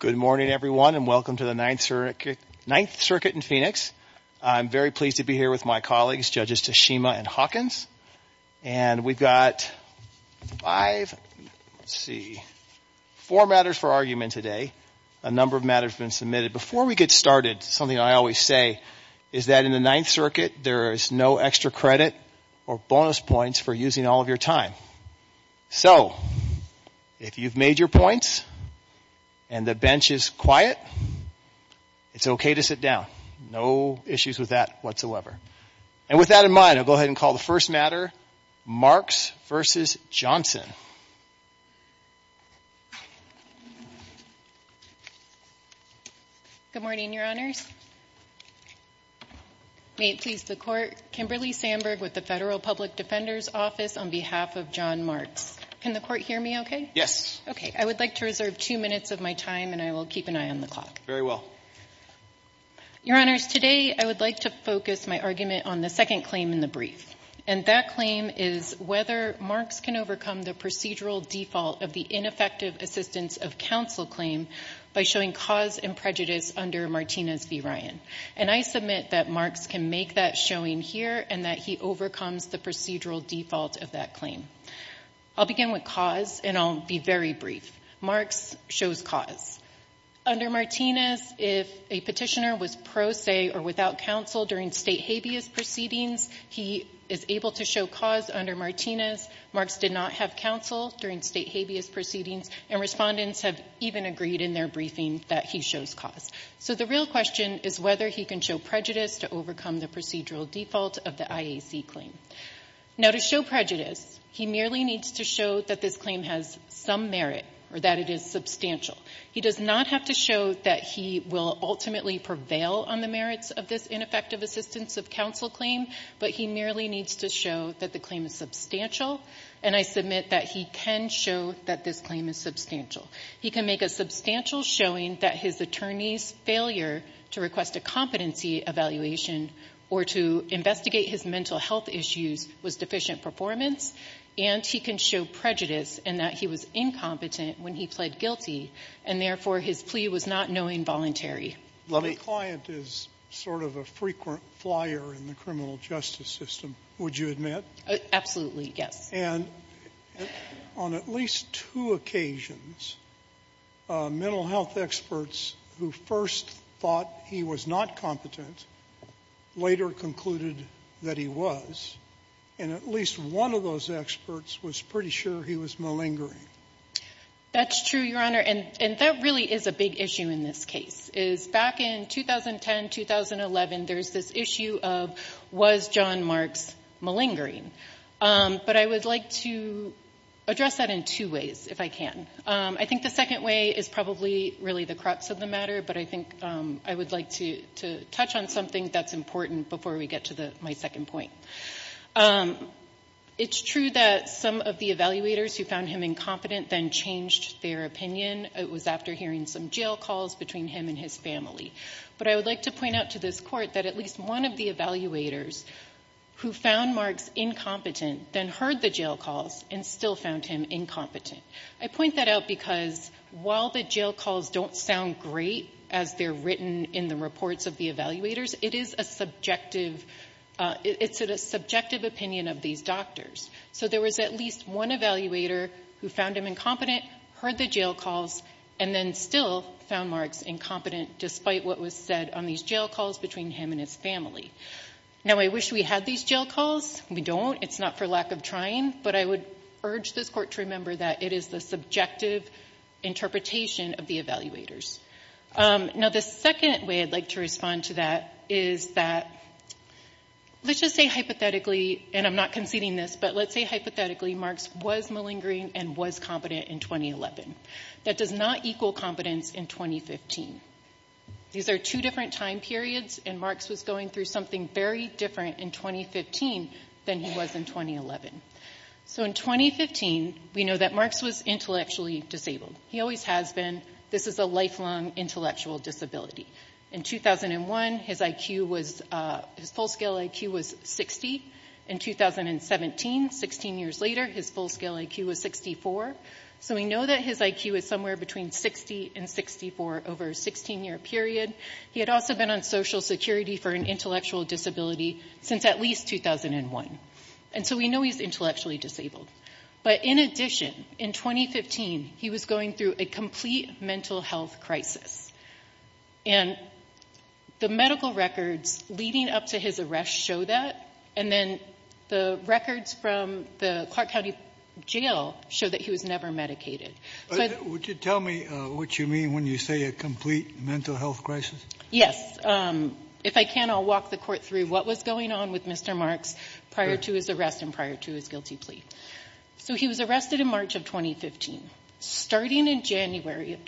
Good morning, everyone, and welcome to the Ninth Circuit in Phoenix. I'm very pleased to be here with my colleagues, Judges Tashima and Hawkins. And we've got four matters for argument today, a number of matters have been submitted. Before we get started, something I always say is that in the Ninth Circuit, there is no extra credit or bonus points for using all of your time. So if you've made your points and the bench is quiet, it's okay to sit down. No issues with that whatsoever. And with that in mind, I'll go ahead and call the first matter, Marks v. Johnson. Good morning, Your Honors. May it please the Court, Kimberly Sandberg with the Federal Public Defender's Office on behalf of John Marks. Can the Court hear me okay? Yes. Okay. I would like to reserve two minutes of my time and I will keep an eye on the clock. Very well. Your Honors, today I would like to focus my argument on the second claim in the brief. And that claim is whether Marks can overcome the procedural default of the ineffective assistance of counsel claim by showing cause and prejudice under Martinez v. Ryan. And I submit that Marks can make that showing here and that he overcomes the procedural default of that claim. I'll begin with cause and I'll be very brief. Marks shows cause. Under Martinez, if a petitioner was pro se or without counsel during state habeas proceedings, he is able to show cause under Martinez. Marks did not have counsel during state habeas proceedings and respondents have even agreed in their briefing that he shows cause. So the real question is whether he can show prejudice to overcome the procedural default of the IAC claim. Now to show prejudice, he merely needs to show that this claim has some merit or that it is substantial. He does not have to show that he will ultimately prevail on the merits of this ineffective assistance of counsel claim, but he merely needs to show that the claim is substantial. And I submit that he can show that this claim is substantial. He can make a substantial showing that his attorney's failure to request a competency evaluation or to investigate his mental health issues was deficient performance. And he can show prejudice and that he was incompetent when he pled guilty. And therefore, his plea was not knowing voluntary. The client is sort of a frequent flyer in the criminal justice system, would you admit? Absolutely, yes. And on at least two occasions, mental health experts who first thought he was not competent later concluded that he was. And at least one of those experts was pretty sure he was malingering. That's true, Your Honor. And that really is a big issue in this case, is back in 2010, 2011, there's this issue of was John Marks malingering? But I would like to address that in two ways, if I can. I think the second way is probably really the crux of the matter, but I think I would like to touch on something that's important before we get to my second point. It's true that some of the evaluators who found him incompetent then changed their opinion. It was after hearing some jail calls between him and his family. But I would like to point out to this Court that at least one of the evaluators who found Marks incompetent then heard the jail calls and still found him incompetent. I point that out because while the jail calls don't sound great as they're written in the courts of the evaluators, it is a subjective, it's a subjective opinion of these doctors. So there was at least one evaluator who found him incompetent, heard the jail calls, and then still found Marks incompetent despite what was said on these jail calls between him and his family. Now I wish we had these jail calls. We don't. It's not for lack of trying. But I would urge this Court to remember that it is the subjective interpretation of the evaluators. Now the second way I'd like to respond to that is that, let's just say hypothetically, and I'm not conceding this, but let's say hypothetically Marks was malingering and was competent in 2011. That does not equal competence in 2015. These are two different time periods, and Marks was going through something very different in 2015 than he was in 2011. So in 2015, we know that Marks was intellectually disabled. He always has been. This is a lifelong intellectual disability. In 2001, his IQ was, his full-scale IQ was 60. In 2017, 16 years later, his full-scale IQ was 64. So we know that his IQ is somewhere between 60 and 64 over a 16-year period. He had also been on Social Security for an intellectual disability since at least 2001. And so we know he's intellectually disabled. But in addition, in 2015, he was going through a complete mental health crisis. And the medical records leading up to his arrest show that. And then the records from the Clark County Jail show that he was never medicated. Would you tell me what you mean when you say a complete mental health crisis? Yes. If I can, I'll walk the court through what was going on with Mr. Marks prior to his arrest and prior to his guilty plea. So he was arrested in March of 2015. Starting in January of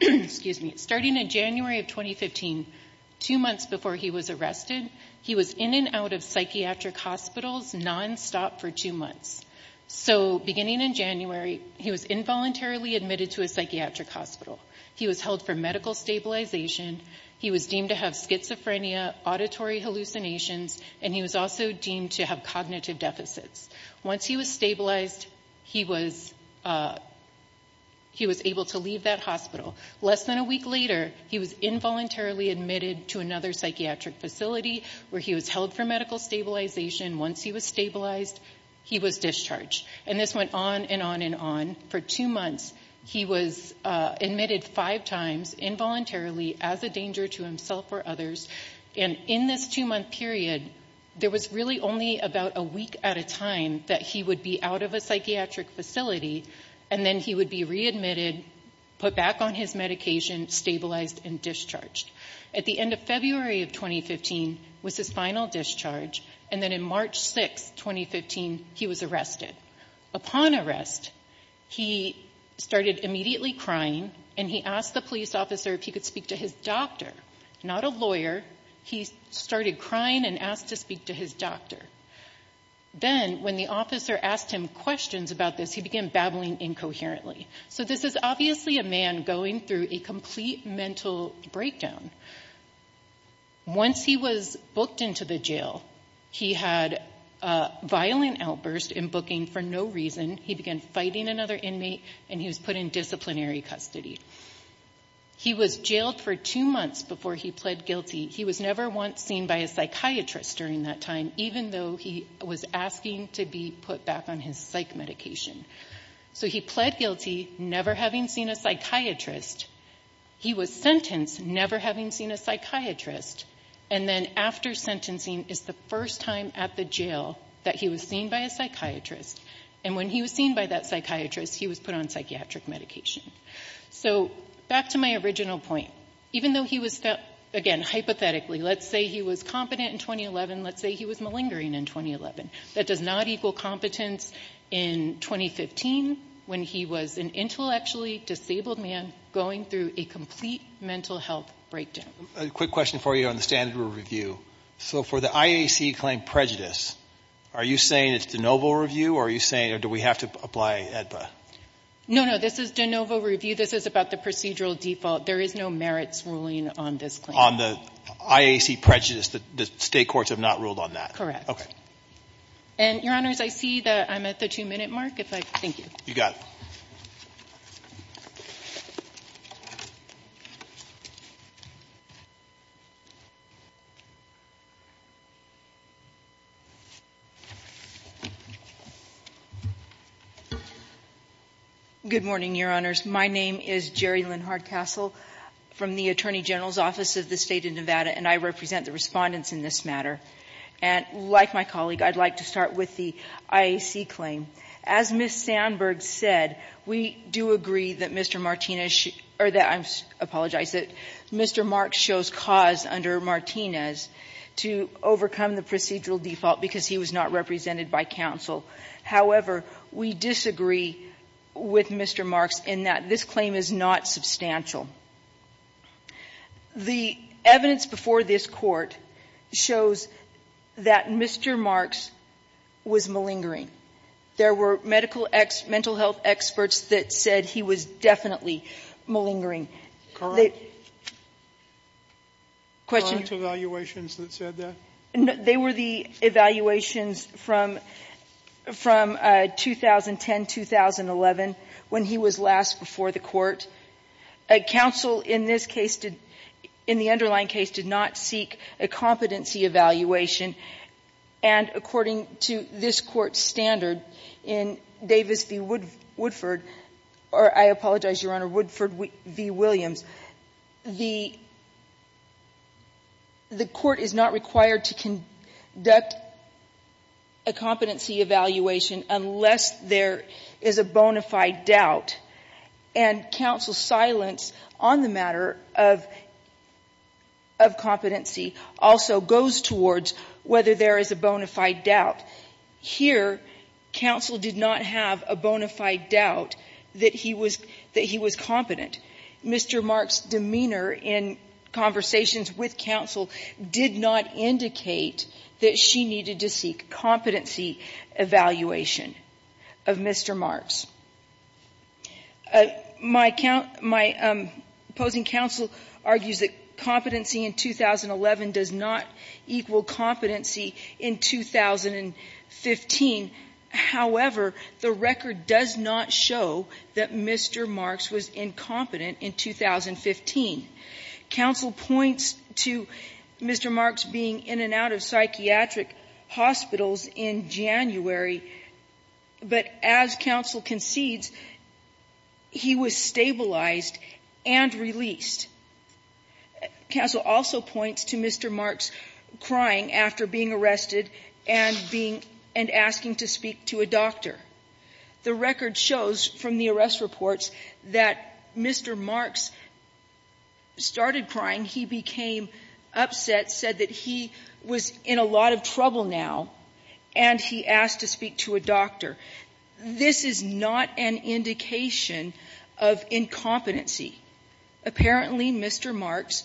2015, two months before he was arrested, he was in and out of psychiatric hospitals nonstop for two months. So beginning in January, he was involuntarily admitted to a psychiatric hospital. He was held for medical stabilization. He was deemed to have schizophrenia, auditory hallucinations, and he was also deemed to have cognitive deficits. Once he was stabilized, he was able to leave that hospital. Less than a week later, he was involuntarily admitted to another psychiatric facility where he was held for medical stabilization. Once he was stabilized, he was discharged. And this went on and on and on. For two months, he was admitted five times involuntarily as a danger to himself or others. And in this two-month period, there was really only about a week at a time that he would be out of a psychiatric facility, and then he would be readmitted, put back on his medication, stabilized, and discharged. At the end of February of 2015 was his final discharge, and then in March 6, 2015, he was arrested. Upon arrest, he started immediately crying, and he asked the police officer if he could speak to his doctor, not a lawyer. He started crying and asked to speak to his doctor. Then when the officer asked him questions about this, he began babbling incoherently. So this is obviously a man going through a complete mental breakdown. Once he was booked into the jail, he had a violent outburst in booking for no reason. He began fighting another inmate, and he was put in disciplinary custody. He was jailed for two months before he pled guilty. He was never once seen by a psychiatrist during that time, even though he was asking to be put back on his psych medication. So he pled guilty, never having seen a psychiatrist. He was sentenced, never having seen a psychiatrist. And then after sentencing is the first time at the jail that he was seen by a psychiatrist. And when he was seen by that psychiatrist, he was put on psychiatric medication. So back to my original point. Even though he was, again, hypothetically, let's say he was competent in 2011, let's say he was malingering in 2011. That does not equal competence in 2015 when he was an intellectually disabled man going through a complete mental health breakdown. A quick question for you on the standard review. So for the IAC claim prejudice, are you saying it's de novo review, or are you saying do we have to apply AEDPA? No, no. This is de novo review. This is about the procedural default. There is no merits ruling on this claim. On the IAC prejudice. The state courts have not ruled on that. Okay. And your honors, I see that I'm at the two minute mark. If I, thank you. You got it. Good morning, your honors. My name is Jerry Lynn Hardcastle from the Attorney General's Office of the State of Nevada, and I represent the respondents in this matter. And like my colleague, I'd like to start with the IAC claim. As Ms. Sandberg said, we do agree that Mr. Martinez, or that, I apologize, that Mr. Mark shows cause under Martinez to overcome the procedural default because he was not represented by counsel. However, we disagree with Mr. Marks in that this claim is not substantial. The evidence before this Court shows that Mr. Marks was malingering. There were medical, mental health experts that said he was definitely malingering. Current evaluations that said that? They were the evaluations from 2010-2011 when he was last before the Court. Counsel in this case did, in the underlying case, did not seek a competency evaluation. And according to this Court standard in Davis v. Woodford, or I apologize, Your Honor, Woodford v. Williams, the Court is not required to conduct a competency evaluation unless there is a bona fide doubt. And counsel's silence on the matter of competency also goes towards whether there is a bona fide doubt that he was competent. Mr. Marks' demeanor in conversations with counsel did not indicate that she needed to seek competency evaluation of Mr. Marks. My opposing counsel argues that competency in 2011 does not equal competency in 2015. However, the record does not show that Mr. Marks was incompetent in 2015. Counsel points to Mr. Marks being in and out of psychiatric hospitals in January, but as counsel concedes, he was stabilized and released. Counsel also points to Mr. Marks crying after being arrested and being — and asking to speak to a doctor. The record shows from the arrest reports that Mr. Marks started crying. He became upset, said that he was in a lot of trouble now, and he asked to speak to a This is not an indication of incompetency. Apparently, Mr. Marks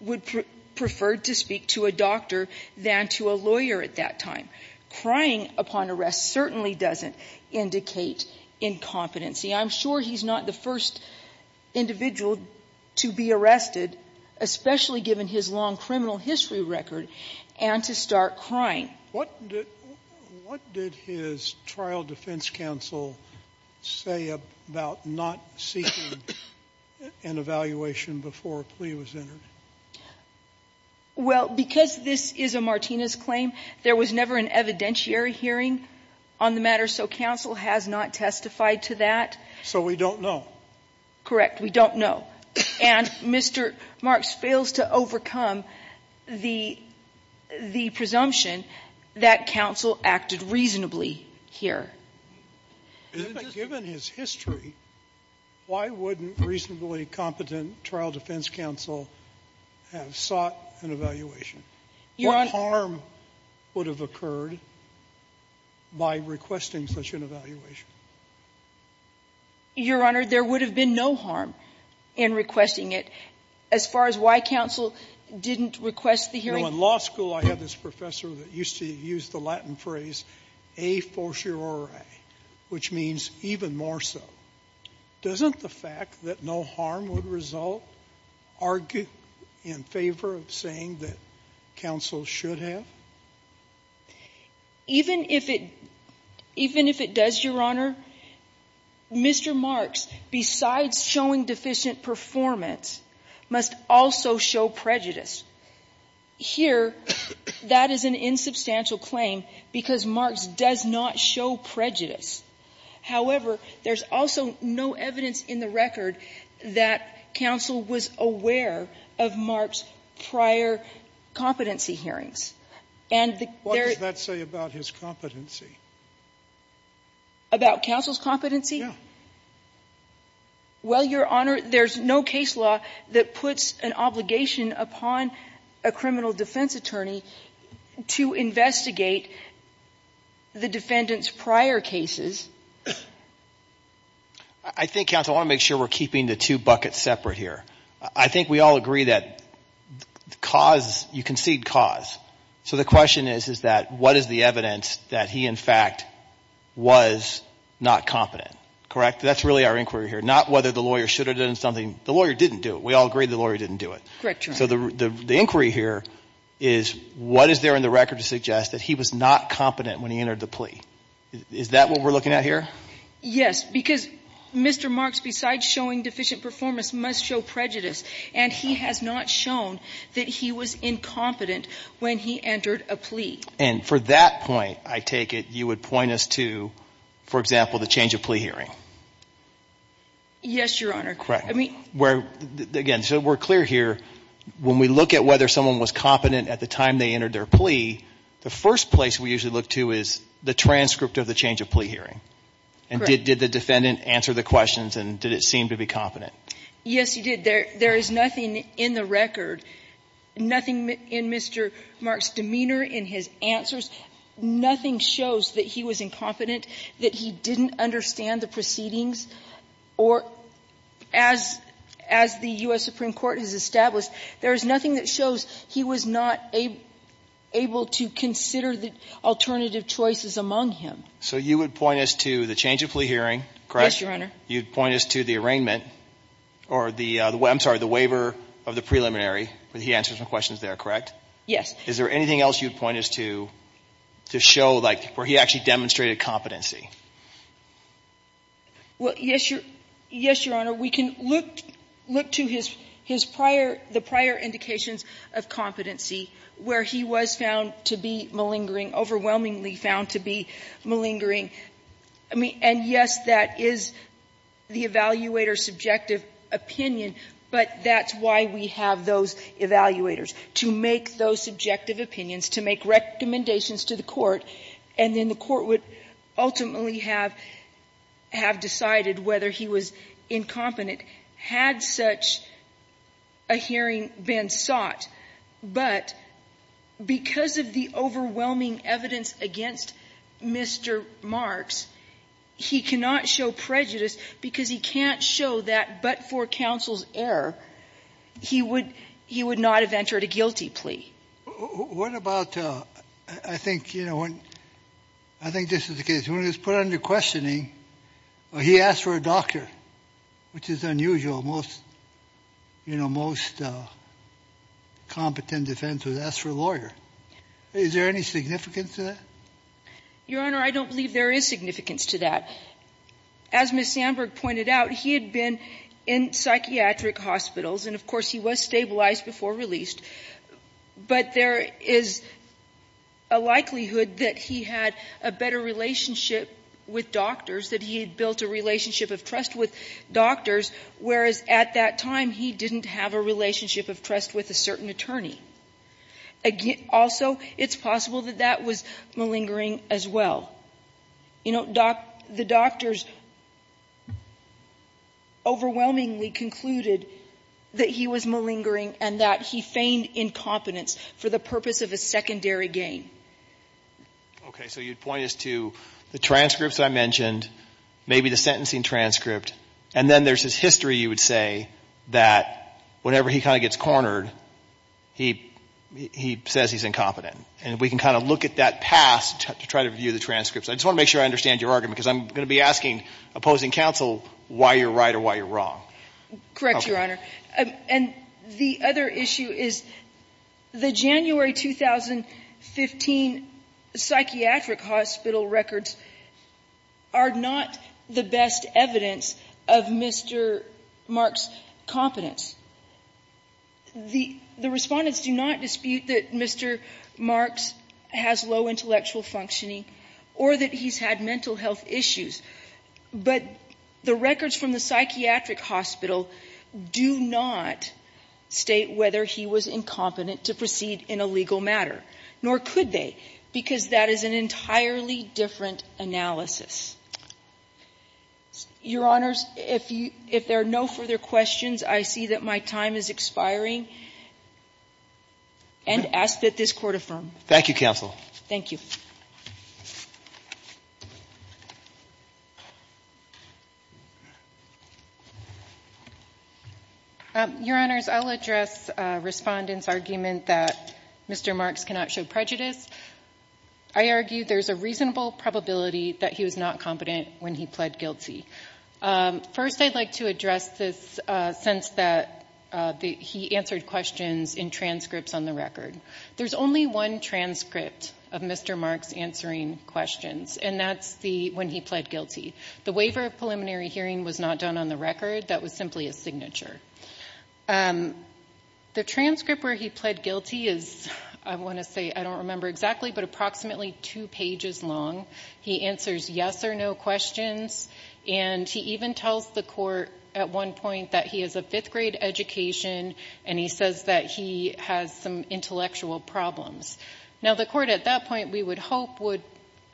would prefer to speak to a doctor than to a lawyer at that time. Crying upon arrest certainly doesn't indicate incompetency. I'm sure he's not the first individual to be arrested, especially given his long criminal history record, and to start crying. What did his trial defense counsel say about not seeking an evaluation before a plea was entered? Well, because this is a Martinez claim, there was never an evidentiary hearing on the matter, so counsel has not testified to that. So we don't know. Correct. We don't know. And Mr. Marks fails to overcome the presumption that counsel acted reasonably here. Given his history, why wouldn't reasonably competent trial defense counsel have sought an evaluation? Your Honor — What harm would have occurred by requesting such an evaluation? Your Honor, there would have been no harm in requesting it. As far as why counsel didn't request the hearing — You know, in law school, I had this professor that used to use the Latin phrase a fortiori, which means even more so. Doesn't the fact that no harm would result argue in favor of saying that counsel should have? Even if it — even if it does, Your Honor, Mr. Marks, besides showing deficient performance, must also show prejudice. Here, that is an insubstantial claim because Marks does not show prejudice. However, there's also no evidence in the record that counsel was aware of Marks' prior competency hearings. And the — What does that say about his competency? About counsel's competency? Yeah. Well, Your Honor, there's no case law that puts an obligation upon a criminal defense attorney to investigate the defendant's prior cases. I think, counsel, I want to make sure we're keeping the two buckets separate here. I think we all agree that cause — you concede cause. So the question is, is that what is the evidence that he, in fact, was not competent? Correct? That's really our inquiry here. Not whether the lawyer should have done something. The lawyer didn't do it. We all agree the lawyer didn't do it. Correct, Your Honor. So the inquiry here is what is there in the record to suggest that he was not competent when he entered the plea? Is that what we're looking at here? Yes. Because Mr. Marks, besides showing deficient performance, must show prejudice, and he has not shown that he was incompetent when he entered a plea. And for that point, I take it you would point us to, for example, the change of plea hearing? Yes, Your Honor. Correct. Again, so we're clear here, when we look at whether someone was competent at the time they entered their plea, the first place we usually look to is the transcript of the change of plea hearing. And did the defendant answer the questions, and did it seem to be competent? Yes, he did. There is nothing in the record, nothing in Mr. Marks' demeanor, in his answers, nothing shows that he was incompetent, that he didn't understand the proceedings. Or as the U.S. Supreme Court has established, there is nothing that shows he was not able to consider the alternative choices among him. So you would point us to the change of plea hearing, correct? Yes, Your Honor. You would point us to the arraignment, or the way, I'm sorry, the waiver of the preliminary, where he answers the questions there, correct? Yes. Is there anything else you would point us to, to show, like, where he actually demonstrated competency? Well, yes, Your Honor. We can look to his prior, the prior indications of competency, where he was found to be malingering, overwhelmingly found to be malingering. And yes, that is the evaluator's subjective opinion, but that's why we have those evaluators, to make those subjective opinions, to make recommendations to the Court, and then the Court would ultimately have decided whether he was incompetent had such a hearing been sought. But because of the overwhelming evidence against Mr. Marks, he cannot show prejudice because he can't show that but for counsel's error, he would not have entered a guilty plea. What about, I think, you know, when, I think this is the case. When he was put under questioning, well, he asked for a doctor, which is unusual. Most, you know, most competent defense would ask for a lawyer. Is there any significance to that? Your Honor, I don't believe there is significance to that. As Ms. Sandberg pointed out, he had been in psychiatric hospitals, and of course, he was stabilized before released, but there is a likelihood that he had a better relationship with doctors, that he had built a relationship of trust with doctors, whereas at that time, he didn't have a relationship of trust with a certain attorney. Also, it's possible that that was malingering as well. You know, the doctors overwhelmingly concluded that he was malingering and that he feigned incompetence for the purpose of a secondary gain. Okay. So you'd point us to the transcripts I mentioned, maybe the sentencing transcript, and then there's his history, you would say, that whenever he kind of gets cornered, he says he's incompetent. And we can kind of look at that past to try to review the transcripts. I just want to make sure I understand your argument, because I'm going to be asking opposing counsel why you're right or why you're wrong. Correct, Your Honor. And the other issue is the January 2015 psychiatric hospital records are not the best evidence of Mr. Marks' competence. The respondents do not dispute that Mr. Marks has low intellectual functioning or that he's had mental health issues. But the records from the psychiatric hospital do not state whether he was incompetent to proceed in a legal matter, nor could they, because that is an entirely different analysis. Your Honors, if you – if there are no further questions, I see that my time is expiring and ask that this Court affirm. Thank you, counsel. Thank you. Your Honors, I'll address Respondent's argument that Mr. Marks cannot show prejudice. I argue there's a reasonable probability that he was not competent when he pled guilty. First, I'd like to address this sense that he answered questions in transcripts on the record. There's only one transcript of Mr. Marks answering questions, and that's the – when he pled guilty. The waiver of preliminary hearing was not done on the record. That was simply a signature. The transcript where he pled guilty is, I want to say, I don't remember exactly, but approximately two pages long. He answers yes or no questions, and he even tells the Court at one point that he has a fifth-grade education, and he says that he has some intellectual problems. Now, the Court at that point, we would hope, would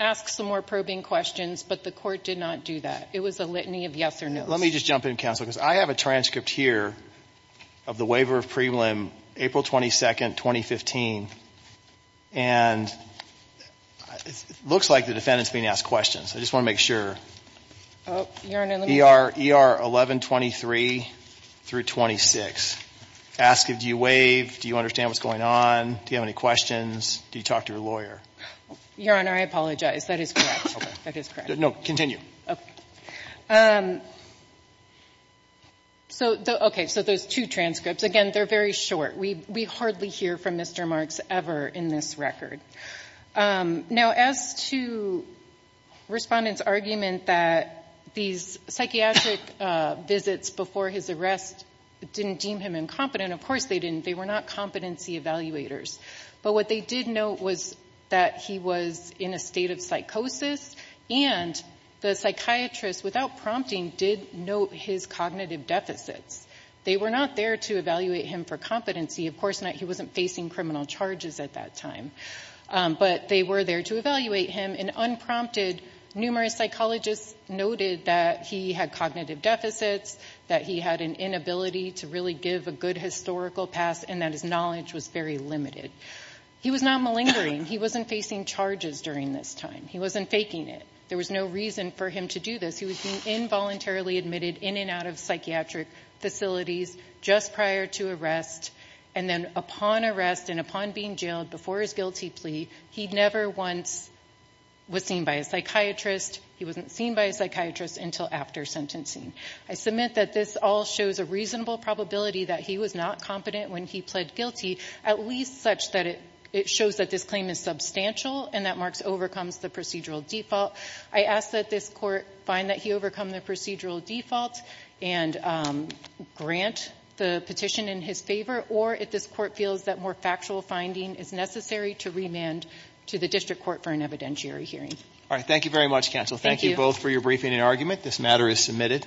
ask some more probing questions, but the Court did not do that. It was a litany of yes or no. Let me just jump in, Counselor, because I have a transcript here of the waiver of prelim April 22, 2015, and it looks like the defendant's being asked questions. I just want to make sure. Oh, Your Honor, let me see. ER 1123 through 26. Ask if you waive. Do you understand what's going on? Do you have any questions? Do you talk to your lawyer? Your Honor, I apologize. That is correct. That is correct. No, continue. So, okay, so there's two transcripts. Again, they're very short. We hardly hear from Mr. Marks ever in this record. Now, as to Respondent's argument that these psychiatric visits before his arrest didn't deem him incompetent, of course they didn't. They were not competency evaluators, but what they did note was that he was in a state of and the psychiatrist, without prompting, did note his cognitive deficits. They were not there to evaluate him for competency. Of course, he wasn't facing criminal charges at that time, but they were there to evaluate him, and unprompted, numerous psychologists noted that he had cognitive deficits, that he had an inability to really give a good historical pass, and that his knowledge was very limited. He was not malingering. He wasn't facing charges during this time. He wasn't faking it. There was no reason for him to do this. He was being involuntarily admitted in and out of psychiatric facilities just prior to arrest, and then upon arrest and upon being jailed before his guilty plea, he never once was seen by a psychiatrist. He wasn't seen by a psychiatrist until after sentencing. I submit that this all shows a reasonable probability that he was not competent when he pled guilty, at least such that it shows that this claim is substantial and that Marks the procedural default. I ask that this Court find that he overcome the procedural default and grant the petition in his favor, or if this Court feels that more factual finding is necessary to remand to the District Court for an evidentiary hearing. All right. Thank you very much, Counsel. Thank you both for your briefing and argument. This matter is submitted.